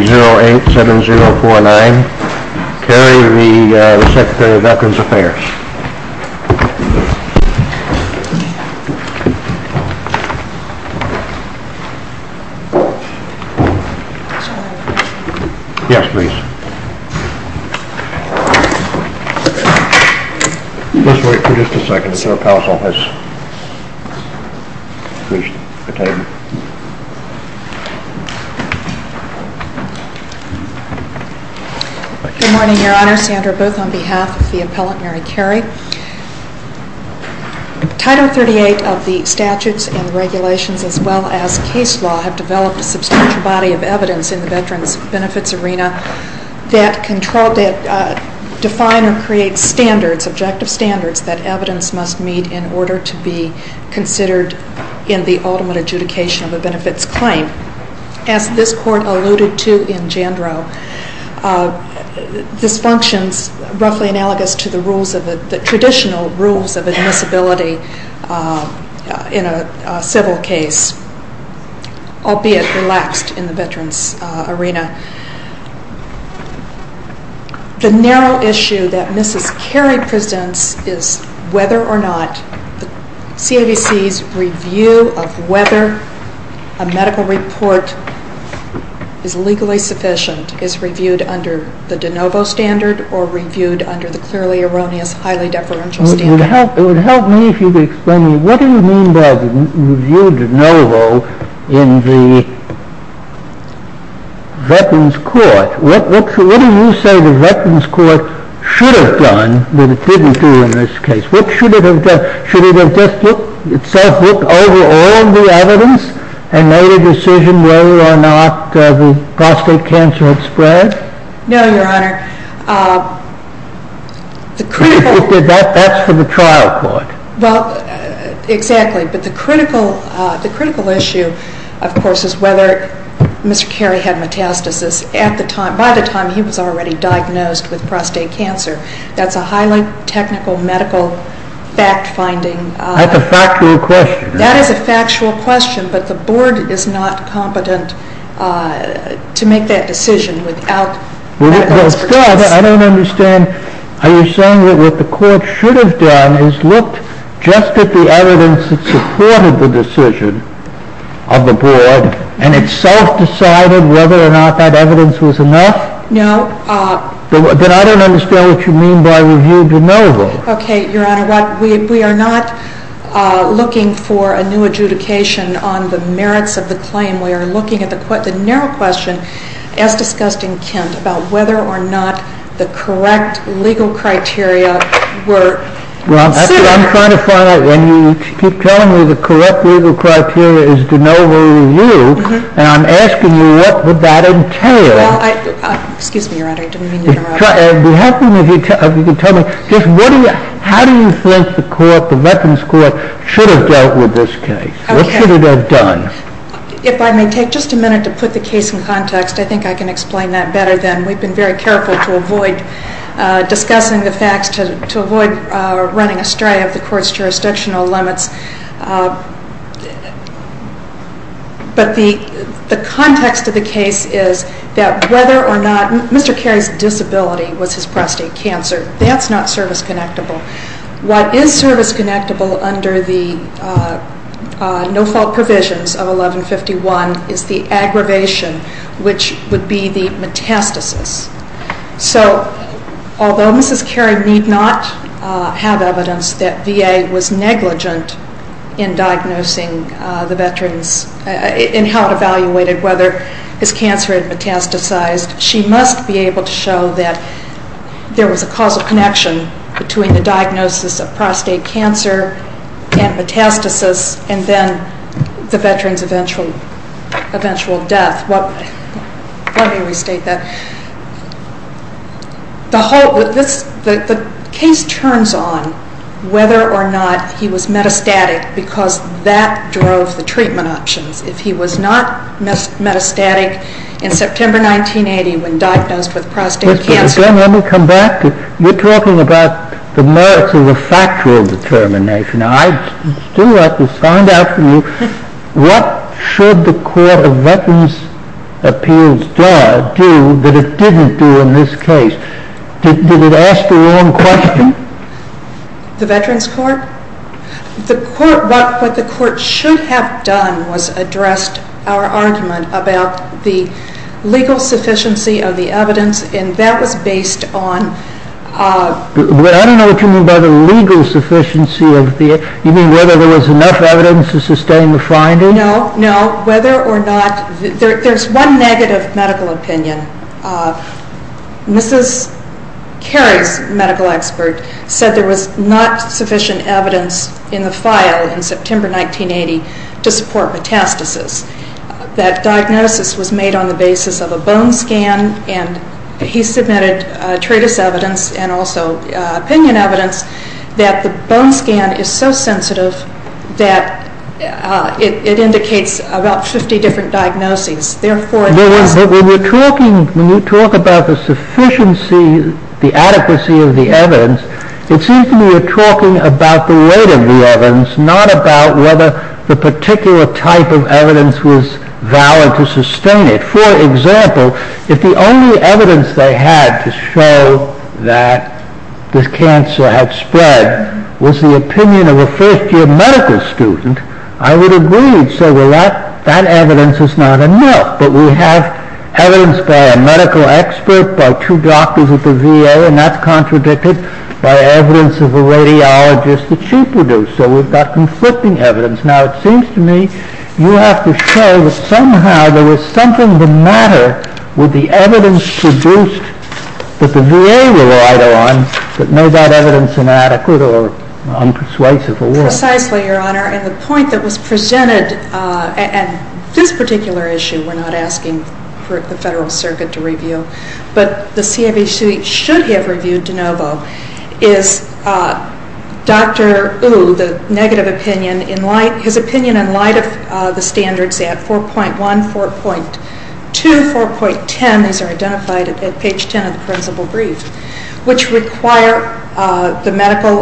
087049, Carey, the Secretary of Veterans Affairs. Yes, please. Let's wait for just a second. Good morning, Your Honor. Sandra Booth on behalf of the appellant Mary Carey. Title 38 of the statutes and regulations, as well as case law, have developed a substantial body of evidence in the veterans' benefits arena that define or create standards, objective standards, that evidence must meet in order to be considered in the ultimate adjudication of a benefits claim. As this Court alluded to in Jandrow, this functions roughly analogous to the traditional rules of admissibility in a civil case, albeit relaxed in the veterans' arena. The narrow issue that Mrs. Carey presents is whether or not the CAVC's review of whether a medical report is legally sufficient is reviewed under the de novo standard or reviewed under the clearly erroneous, highly deferential standard. It would help me if you could explain to me what do you mean by reviewed de novo in the veterans' court? What do you say the veterans' court should have done that it didn't do in this case? What should it have done? Should it have just itself looked over all of the evidence and made a decision whether or not the prostate cancer had spread? No, Your Honor. That's for the trial court. Well, exactly. But the critical issue, of course, is whether Mr. Carey had metastasis at the time. By the time he was already diagnosed with prostate cancer, that's a highly technical medical fact-finding. That's a factual question. That is a factual question, but the board is not competent to make that decision without medical expertise. Well, still, I don't understand. Are you saying that what the court should have done is looked just at the evidence that supported the decision of the board and itself decided whether or not that evidence was enough? No. Then I don't understand what you mean by reviewed de novo. Okay, Your Honor. We are not looking for a new adjudication on the merits of the claim. We are looking at the narrow question, as discussed in Kent, about whether or not the correct legal criteria were set. Well, I'm trying to find out. When you keep telling me the correct legal criteria is de novo review, and I'm asking you what would that entail? Well, excuse me, Your Honor. I didn't mean to interrupt. It would be helpful if you could tell me just how do you think the court, the Veterans Court, should have dealt with this case? What should it have done? If I may take just a minute to put the case in context, I think I can explain that better then. We've been very careful to avoid discussing the facts, to avoid running astray of the court's jurisdictional limits. But the context of the case is that whether or not Mr. Cary's disability was his prostate cancer, that's not service-connectable. What is service-connectable under the no-fault provisions of 1151 is the aggravation, which would be the metastasis. So although Mrs. Cary need not have evidence that VA was negligent in diagnosing the veterans and how it evaluated whether his cancer had metastasized, she must be able to show that there was a causal connection between the diagnosis of prostate cancer and metastasis and then the veterans' eventual death. Let me restate that. The case turns on whether or not he was metastatic because that drove the treatment options. If he was not metastatic in September 1980 when diagnosed with prostate cancer... Let me come back. You're talking about the merits of the factual determination. I'd still like to find out from you what should the Court of Veterans' Appeals do that it didn't do in this case? Did it ask the wrong question? The Veterans' Court? What the Court should have done was addressed our argument about the legal sufficiency of the evidence, and that was based on... I don't know what you mean by the legal sufficiency. You mean whether there was enough evidence to sustain the finding? No, no. Whether or not... There's one negative medical opinion. Mrs. Cary's medical expert said there was not sufficient evidence in the file in September 1980 to support metastasis. That diagnosis was made on the basis of a bone scan, and he submitted treatise evidence and also opinion evidence that the bone scan is so sensitive that it indicates about 50 different diagnoses. When you talk about the sufficiency, the adequacy of the evidence, it seems to me you're talking about the weight of the evidence, not about whether the particular type of evidence was valid to sustain it. For example, if the only evidence they had to show that this cancer had spread was the opinion of a first-year medical student, I would agree. So that evidence is not enough. But we have evidence by a medical expert, by two doctors at the VA, and that's contradicted by evidence of a radiologist that she produced. So we've got conflicting evidence. Now, it seems to me you have to show that somehow there was something of a matter with the evidence produced that the VA relied on, but no doubt evidence inadequate or unpersuasive. Precisely, Your Honor, and the point that was presented, and this particular issue we're not asking for the Federal Circuit to review, but the CFHC should have reviewed de novo, is Dr. Ou, his opinion in light of the standards at 4.1, 4.2, 4.10, these are identified at page 10 of the principal brief, which required medical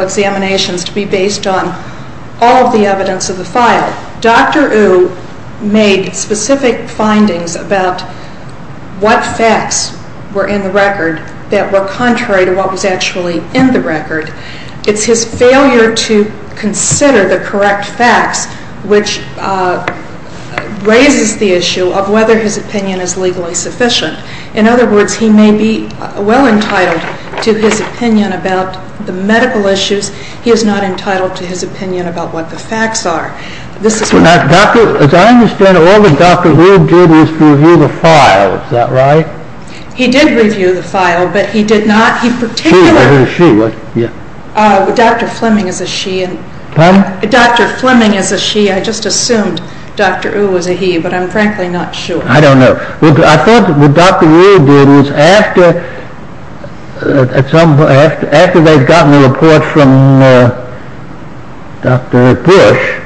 examinations to be based on all of the evidence of the file. Dr. Ou made specific findings about what facts were in the record that were contrary to what was actually in the record. It's his failure to consider the correct facts which raises the issue of whether his opinion is legally sufficient. In other words, he may be well entitled to his opinion about the medical issues. He is not entitled to his opinion about what the facts are. As I understand it, all that Dr. Ou did was to review the file, is that right? He did review the file, but he did not. She, I heard a she. Dr. Fleming is a she. Pardon? Dr. Fleming is a she. I just assumed Dr. Ou was a he, but I'm frankly not sure. I don't know. I thought what Dr. Ou did was after they had gotten the report from Dr. Bush,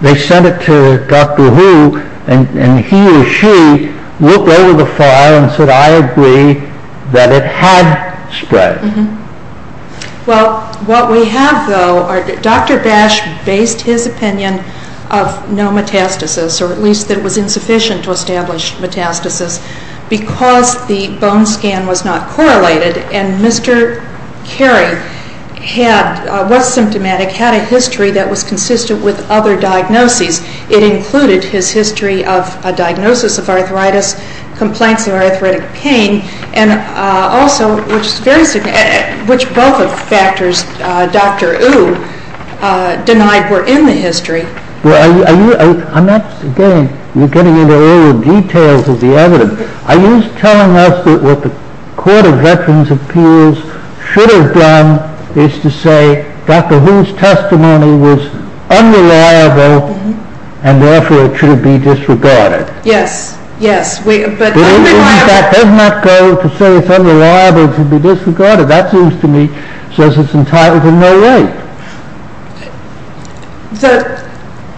they sent it to Dr. Ou and he or she looked over the file and said, I agree that it had spread. Well, what we have, though, Dr. Bash based his opinion of no metastasis, or at least that it was insufficient to establish metastasis, because the bone scan was not correlated and Mr. Carey was symptomatic, had a history that was consistent with other diagnoses. It included his history of a diagnosis of arthritis, complaints of arthritic pain, and also, which both of the factors Dr. Ou denied were in the history. Again, you're getting into all the details of the evidence. Are you telling us that what the Court of Veterans' Appeals should have done is to say Dr. Ou's testimony was unreliable and therefore it should be disregarded? Yes, yes. In fact, it does not go to say it's unreliable to be disregarded. That seems to me says it's entitled to no right.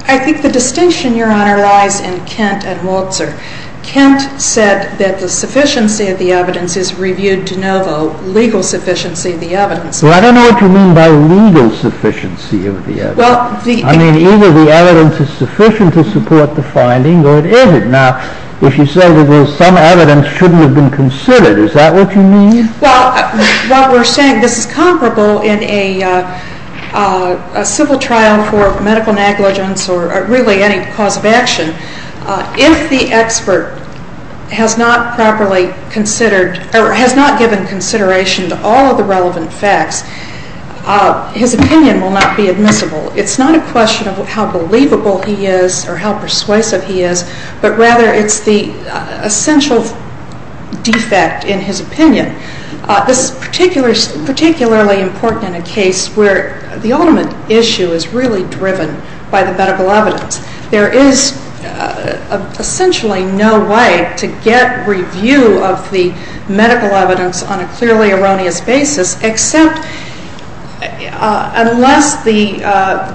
I think the distinction, Your Honor, lies in Kent and Maltzer. Kent said that the sufficiency of the evidence is reviewed de novo, legal sufficiency of the evidence. Well, I don't know what you mean by legal sufficiency of the evidence. I mean, either the evidence is sufficient to support the finding or it isn't. Now, if you say that some evidence shouldn't have been considered, is that what you mean? Well, what we're saying, this is comparable in a civil trial for medical negligence or really any cause of action. If the expert has not properly considered or has not given consideration to all of the relevant facts, his opinion will not be admissible. It's not a question of how believable he is or how persuasive he is, but rather it's the essential defect in his opinion. This is particularly important in a case where the ultimate issue is really driven by the medical evidence. There is essentially no way to get review of the medical evidence on a clearly erroneous basis except unless the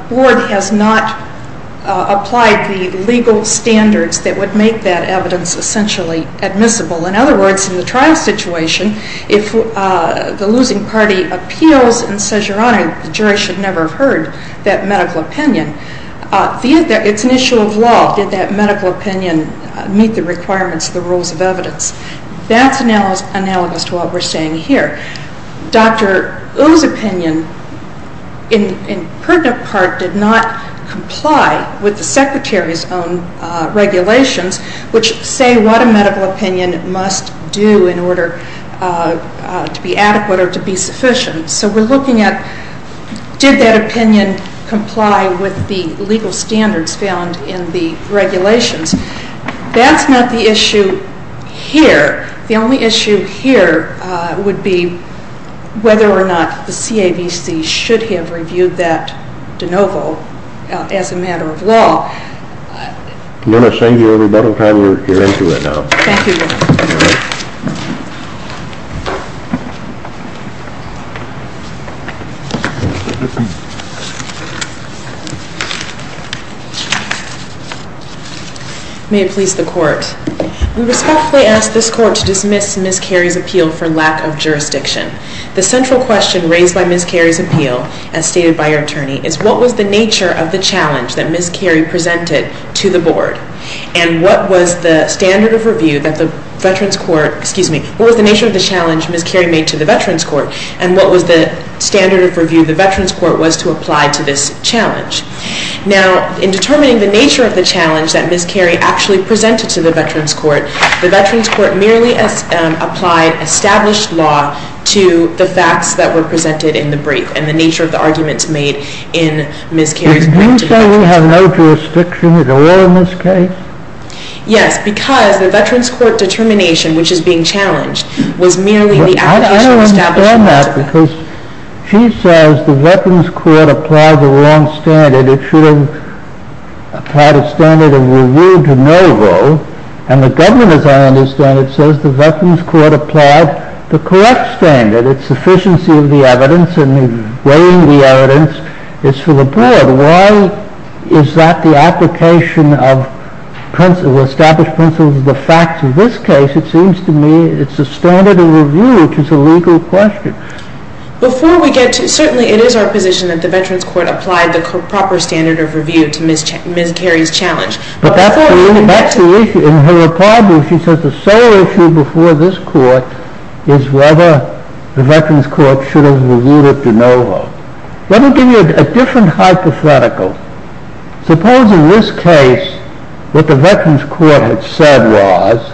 Board has not applied the legal standards that would make that evidence essentially admissible. In other words, in the trial situation, if the losing party appeals and says, Your Honor, the jury should never have heard that medical opinion, it's an issue of law. Did that medical opinion meet the requirements of the rules of evidence? That's analogous to what we're saying here. Dr. Ou's opinion, in pertinent part, did not comply with the Secretary's own regulations, which say what a medical opinion must do in order to be adequate or to be sufficient. So we're looking at did that opinion comply with the legal standards found in the regulations? That's not the issue here. The only issue here would be whether or not the CAVC should have reviewed that de novo as a matter of law. I'm going to thank you every bit of time. You're into it now. Thank you, Your Honor. May it please the Court. We respectfully ask this Court to dismiss Ms. Cary's appeal for lack of jurisdiction. The central question raised by Ms. Cary's appeal, as stated by her attorney, is what was the nature of the challenge that Ms. Cary presented to the Board? And what was the standard of review that the Veterans Court, excuse me, what was the nature of the challenge Ms. Cary made to the Veterans Court? And what was the standard of review the Veterans Court was to apply to this challenge? Now, in determining the nature of the challenge that Ms. Cary actually presented to the Veterans Court, the Veterans Court merely applied established law to the facts that were presented in the brief and the nature of the arguments made in Ms. Cary's brief. Did you say we have no jurisdiction at all in this case? Yes, because the Veterans Court determination, which is being challenged, was merely the application of established law. I understand that because she says the Veterans Court applied the wrong standard. It should have had a standard of review de novo. And the government, as I understand it, says the Veterans Court applied the correct standard. It's sufficiency of the evidence and weighing the evidence is for the Board. Why is that the application of established principles of the facts? In this case, it seems to me it's a standard of review, which is a legal question. Before we get to it, certainly it is our position that the Veterans Court applied the proper standard of review to Ms. Cary's challenge. But that's the issue. In her reply, she says the sole issue before this Court is whether the Veterans Court should have reviewed it de novo. Let me give you a different hypothetical. Suppose in this case what the Veterans Court had said was,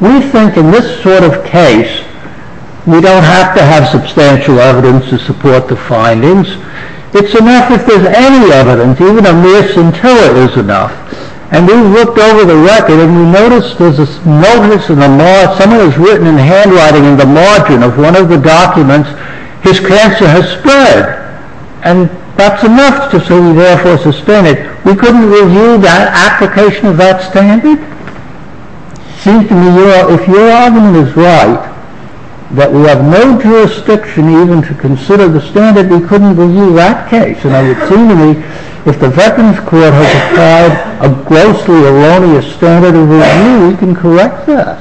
we think in this sort of case we don't have to have substantial evidence to support the findings. It's enough if there's any evidence, even a mere scintilla is enough. And we looked over the record and we noticed there's a notice in the margin, something was written in the handwriting in the margin of one of the documents, his cancer has spread. And that's enough to say we therefore sustain it. We couldn't review the application of that standard? It seems to me if your argument is right, that we have no jurisdiction even to consider the standard, we couldn't review that case. And it seems to me if the Veterans Court has applied a grossly erroneous standard of review, we can correct that.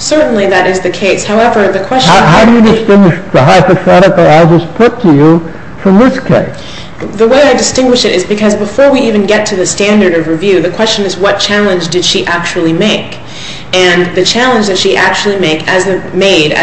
Certainly that is the case. How do you distinguish the hypothetical I just put to you from this case? The way I distinguish it is because before we even get to the standard of review, the question is what challenge did she actually make? And the challenge that she actually made, as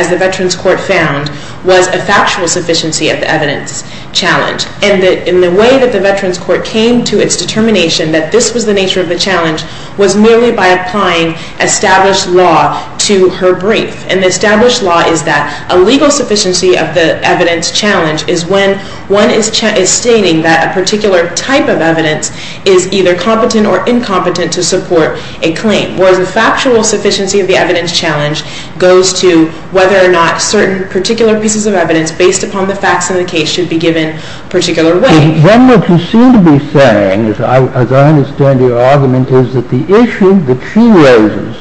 the Veterans Court found, was a factual sufficiency of the evidence challenge. And in the way that the Veterans Court came to its determination that this was the nature of the challenge was merely by applying established law to her brief. And the established law is that a legal sufficiency of the evidence challenge is when one is stating that a particular type of evidence is either competent or incompetent to support a claim. Whereas the factual sufficiency of the evidence challenge goes to whether or not certain particular pieces of evidence based upon the facts in the case should be given a particular way. Then what you seem to be saying, as I understand your argument, is that the issue that she raises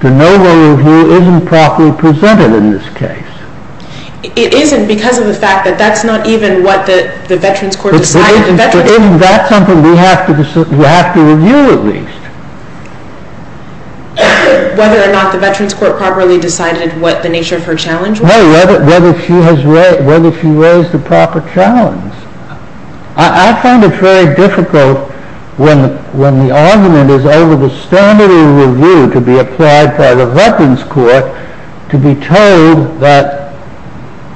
to no one of you isn't properly presented in this case. It isn't because of the fact that that's not even what the Veterans Court decided. Isn't that something we have to review at least? Whether or not the Veterans Court properly decided what the nature of her challenge was? No, whether she raised the proper challenge. I find it very difficult when the argument is over the standard of review to be applied by the Veterans Court to be told that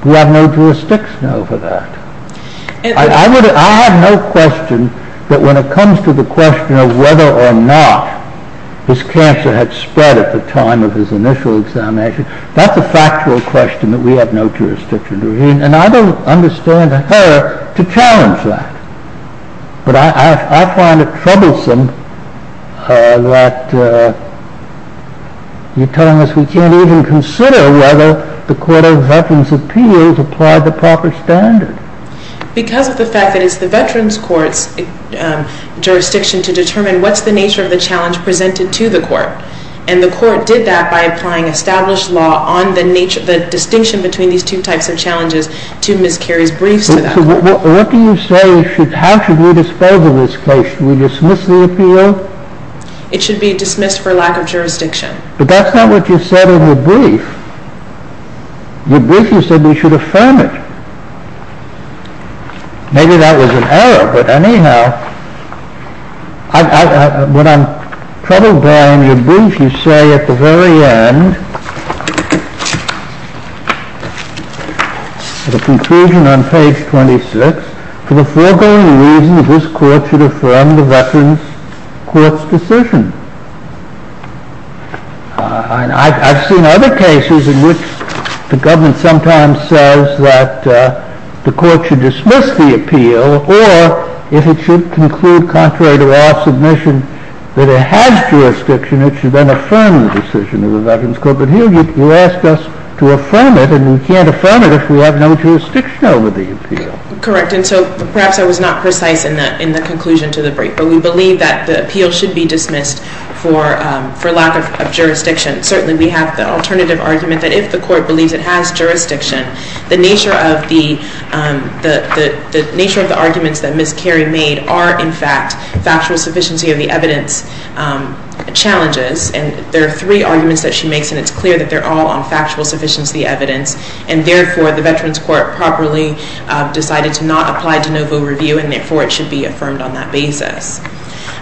we have no jurisdiction over that. I have no question that when it comes to the question of whether or not this cancer had spread at the time of his initial examination, that's a factual question that we have no jurisdiction over. And I don't understand her to challenge that. But I find it troublesome that you're telling us we can't even consider whether the Court of Veterans Appeals applied the proper standard. Because of the fact that it's the Veterans Court's jurisdiction to determine what's the nature of the challenge presented to the Court. And the Court did that by applying established law on the distinction between these two types of challenges to Ms. Carey's briefs to them. So what do you say, how should we dispose of this case? Should we dismiss the appeal? It should be dismissed for lack of jurisdiction. But that's not what you said in your brief. In your brief you said we should affirm it. Maybe that was an error, but anyhow. What I'm troubled by in your brief, you say at the very end, at a conclusion on page 26, for the foregoing reason that this Court should affirm the Veterans Court's decision. I've seen other cases in which the government sometimes says that the Court should dismiss the appeal, or if it should conclude contrary to our submission that it has jurisdiction, it should then affirm the decision of the Veterans Court. But here you asked us to affirm it, and we can't affirm it if we have no jurisdiction over the appeal. Correct. And so perhaps I was not precise in the conclusion to the brief. But we believe that the appeal should be dismissed for lack of jurisdiction. Certainly we have the alternative argument that if the Court believes it has jurisdiction, the nature of the arguments that Ms. Carey made are, in fact, factual sufficiency of the evidence challenges. And there are three arguments that she makes, and it's clear that they're all on factual sufficiency evidence, and therefore the Veterans Court properly decided to not apply de novo review, and therefore it should be affirmed on that basis.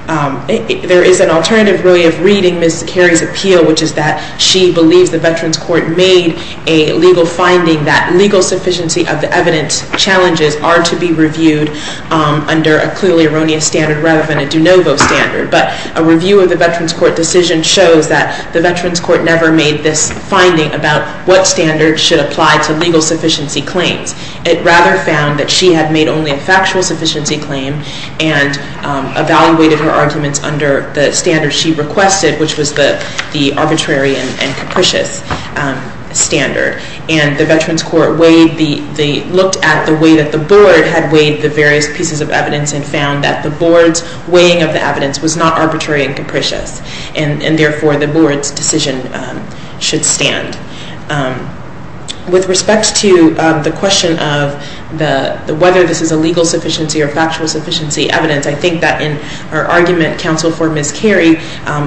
There is an alternative, really, of reading Ms. Carey's appeal, which is that she believes the Veterans Court made a legal finding that legal sufficiency of the evidence challenges are to be reviewed under a clearly erroneous standard rather than a de novo standard. But a review of the Veterans Court decision shows that the Veterans Court never made this finding about what standard should apply to legal sufficiency claims. It rather found that she had made only a factual sufficiency claim and evaluated her arguments under the standards she requested, which was the arbitrary and capricious standard. And the Veterans Court looked at the way that the Board had weighed the various pieces of evidence and found that the Board's weighing of the evidence was not arbitrary and capricious, and therefore the Board's decision should stand. With respect to the question of whether this is a legal sufficiency or factual sufficiency evidence, I think that in our argument, Counsel for Ms. Carey,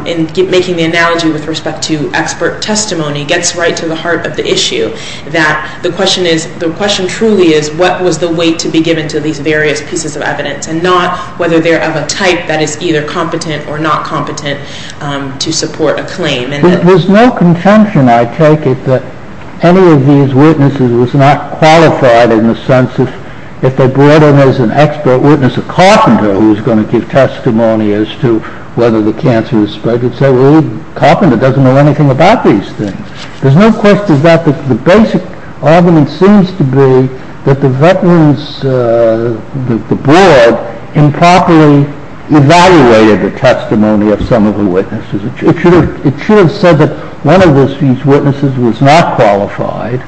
in making the analogy with respect to expert testimony, gets right to the heart of the issue, that the question truly is what was the weight to be given to these various pieces of evidence and not whether they're of a type that is either competent or not competent to support a claim. There's no contention, I take it, that any of these witnesses was not qualified in the sense that if they brought in as an expert witness a carpenter who was going to give testimony as to whether the cancer was spread, you'd say, well, the carpenter doesn't know anything about these things. There's no question that the basic argument seems to be that the Veterans, the Board, improperly evaluated the testimony of some of the witnesses. It should have said that one of these witnesses was not qualified,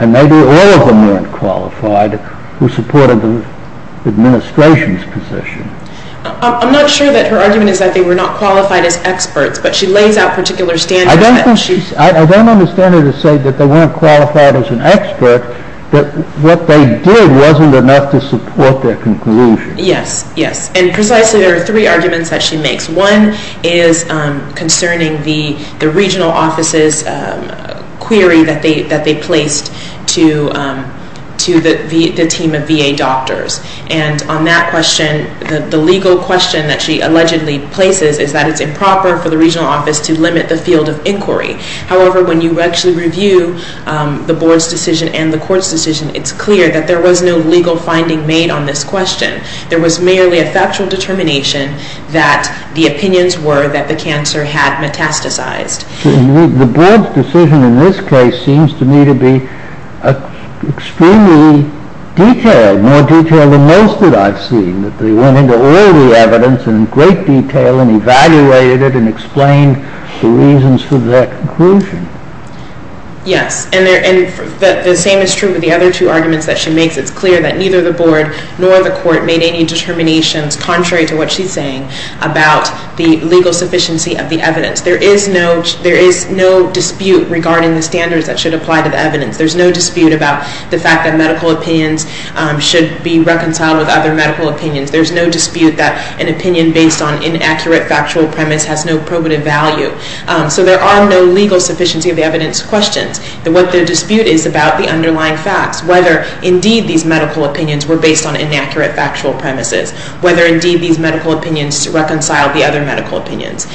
and maybe all of them weren't qualified, who supported the administration's position. I'm not sure that her argument is that they were not qualified as experts, but she lays out particular standards. I don't understand her to say that they weren't qualified as an expert, but what they did wasn't enough to support their conclusion. Yes, yes, and precisely there are three arguments that she makes. One is concerning the regional office's query that they placed to the team of VA doctors. And on that question, the legal question that she allegedly places is that it's improper for the regional office to limit the field of inquiry. However, when you actually review the Board's decision and the court's decision, it's clear that there was no legal finding made on this question. There was merely a factual determination that the opinions were that the cancer had metastasized. The Board's decision in this case seems to me to be extremely detailed, more detailed than most that I've seen. They went into all the evidence in great detail and evaluated it and explained the reasons for their conclusion. Yes, and the same is true with the other two arguments that she makes. It's clear that neither the Board nor the court made any determinations, contrary to what she's saying, about the legal sufficiency of the evidence. There is no dispute regarding the standards that should apply to the evidence. There's no dispute about the fact that medical opinions should be reconciled with other medical opinions. There's no dispute that an opinion based on inaccurate factual premise has no probative value. So there are no legal sufficiency of the evidence questions. What the dispute is about the underlying facts, whether indeed these medical opinions were based on inaccurate factual premises, whether indeed these medical opinions reconciled the other medical opinions.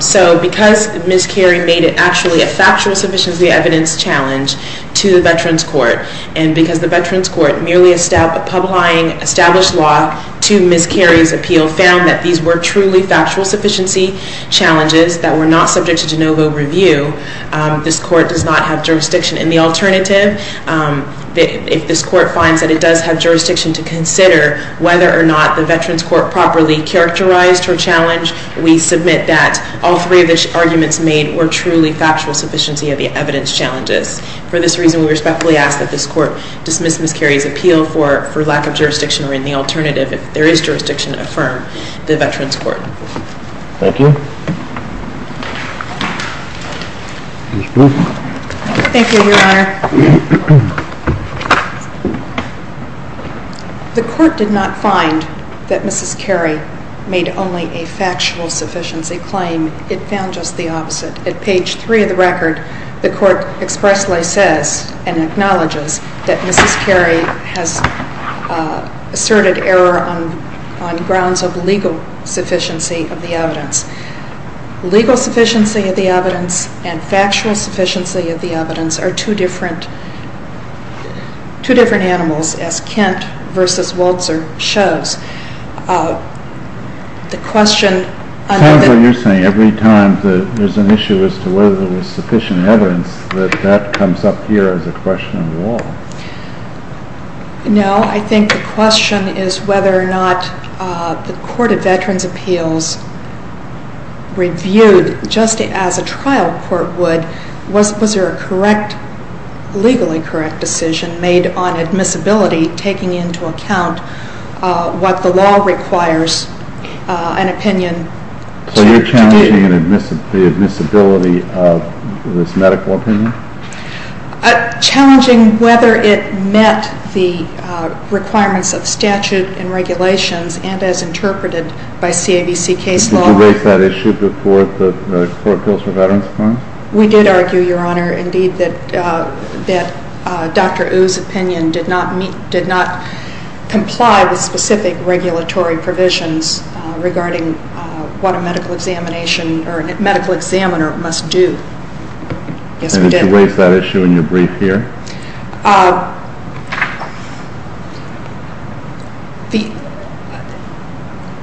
So because Ms. Carey made it actually a factual sufficiency evidence challenge to the Veterans Court, and because the Veterans Court merely established law to Ms. Carey's appeal, found that these were truly factual sufficiency challenges that were not subject to de novo review, this court does not have jurisdiction in the alternative. If this court finds that it does have jurisdiction to consider whether or not the Veterans Court properly characterized her challenge, we submit that all three of the arguments made were truly factual sufficiency of the evidence challenges. For this reason, we respectfully ask that this court dismiss Ms. Carey's appeal for lack of jurisdiction or in the alternative. If there is jurisdiction, affirm the Veterans Court. Thank you. Thank you, Your Honor. The court did not find that Ms. Carey made only a factual sufficiency claim. It found just the opposite. At page three of the record, the court expressly says and acknowledges that Ms. Carey has asserted error on grounds of legal sufficiency of the evidence. Legal sufficiency of the evidence and factual sufficiency of the evidence are two different animals, as Kent v. Waltzer shows. The question... Sounds like you're saying every time there's an issue as to whether there was sufficient evidence, that that comes up here as a question of law. No. I think the question is whether or not the Court of Veterans' Appeals reviewed just as a trial court would, was there a legally correct decision made on admissibility, taking into account what the law requires an opinion to be. So you're challenging the admissibility of this medical opinion? Challenging whether it met the requirements of statute and regulations, and as interpreted by CABC case law. Did you raise that issue before the Court of Appeals for Veterans' Claims? We did argue, Your Honor, indeed, that Dr. Ou's opinion did not comply with specific regulatory provisions regarding what a medical examination or a medical examiner must do. Yes, we did. And did you raise that issue in your brief here?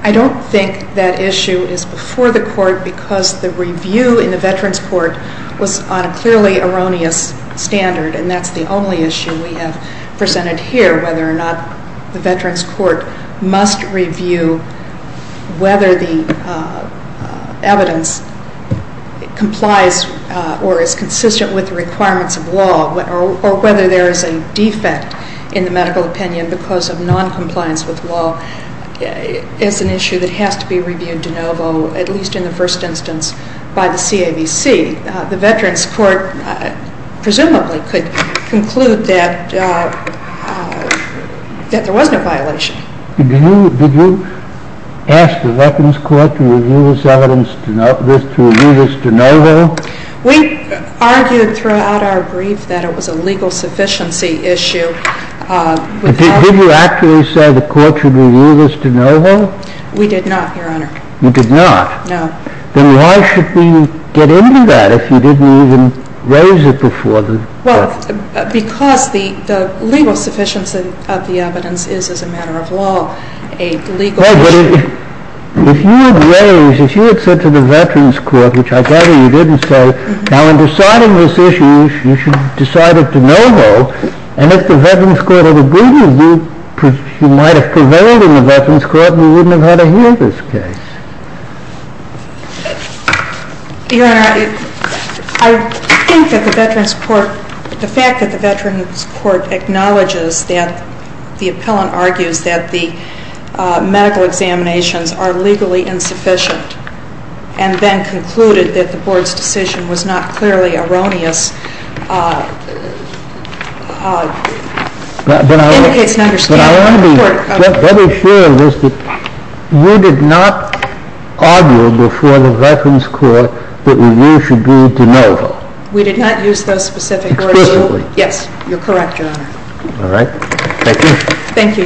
I don't think that issue is before the Court because the review in the Veterans' Court was on a clearly erroneous standard, and that's the only issue we have presented here, whether or not the Veterans' Court must review whether the evidence complies or is consistent with the requirements of law, or whether there is a defect in the medical opinion because of noncompliance with law, is an issue that has to be reviewed de novo, at least in the first instance, by the CABC. The Veterans' Court, presumably, could conclude that there was no violation. Did you ask the Veterans' Court to review this evidence de novo? We argued throughout our brief that it was a legal sufficiency issue. Did you actually say the Court should review this de novo? We did not, Your Honor. You did not? No. Then why should we get into that if you didn't even raise it before the Court? Well, because the legal sufficiency of the evidence is, as a matter of law, a legal issue. No, but if you had raised, if you had said to the Veterans' Court, which I gather you didn't say, now, in deciding this issue, you should decide it de novo, and if the Veterans' Court had agreed with you, you might have prevailed in the Veterans' Court Your Honor, I think that the Veterans' Court, the fact that the Veterans' Court acknowledges that, the appellant argues that the medical examinations are legally insufficient, and then concluded that the Board's decision was not clearly erroneous, indicates an understanding of the Court. But I want to be very clear on this, that you did not argue before the Veterans' Court that review should be de novo. We did not use those specific words. Exclusively. Yes, you're correct, Your Honor. All right. Thank you. Thank you, Your Honor. The case is submitted.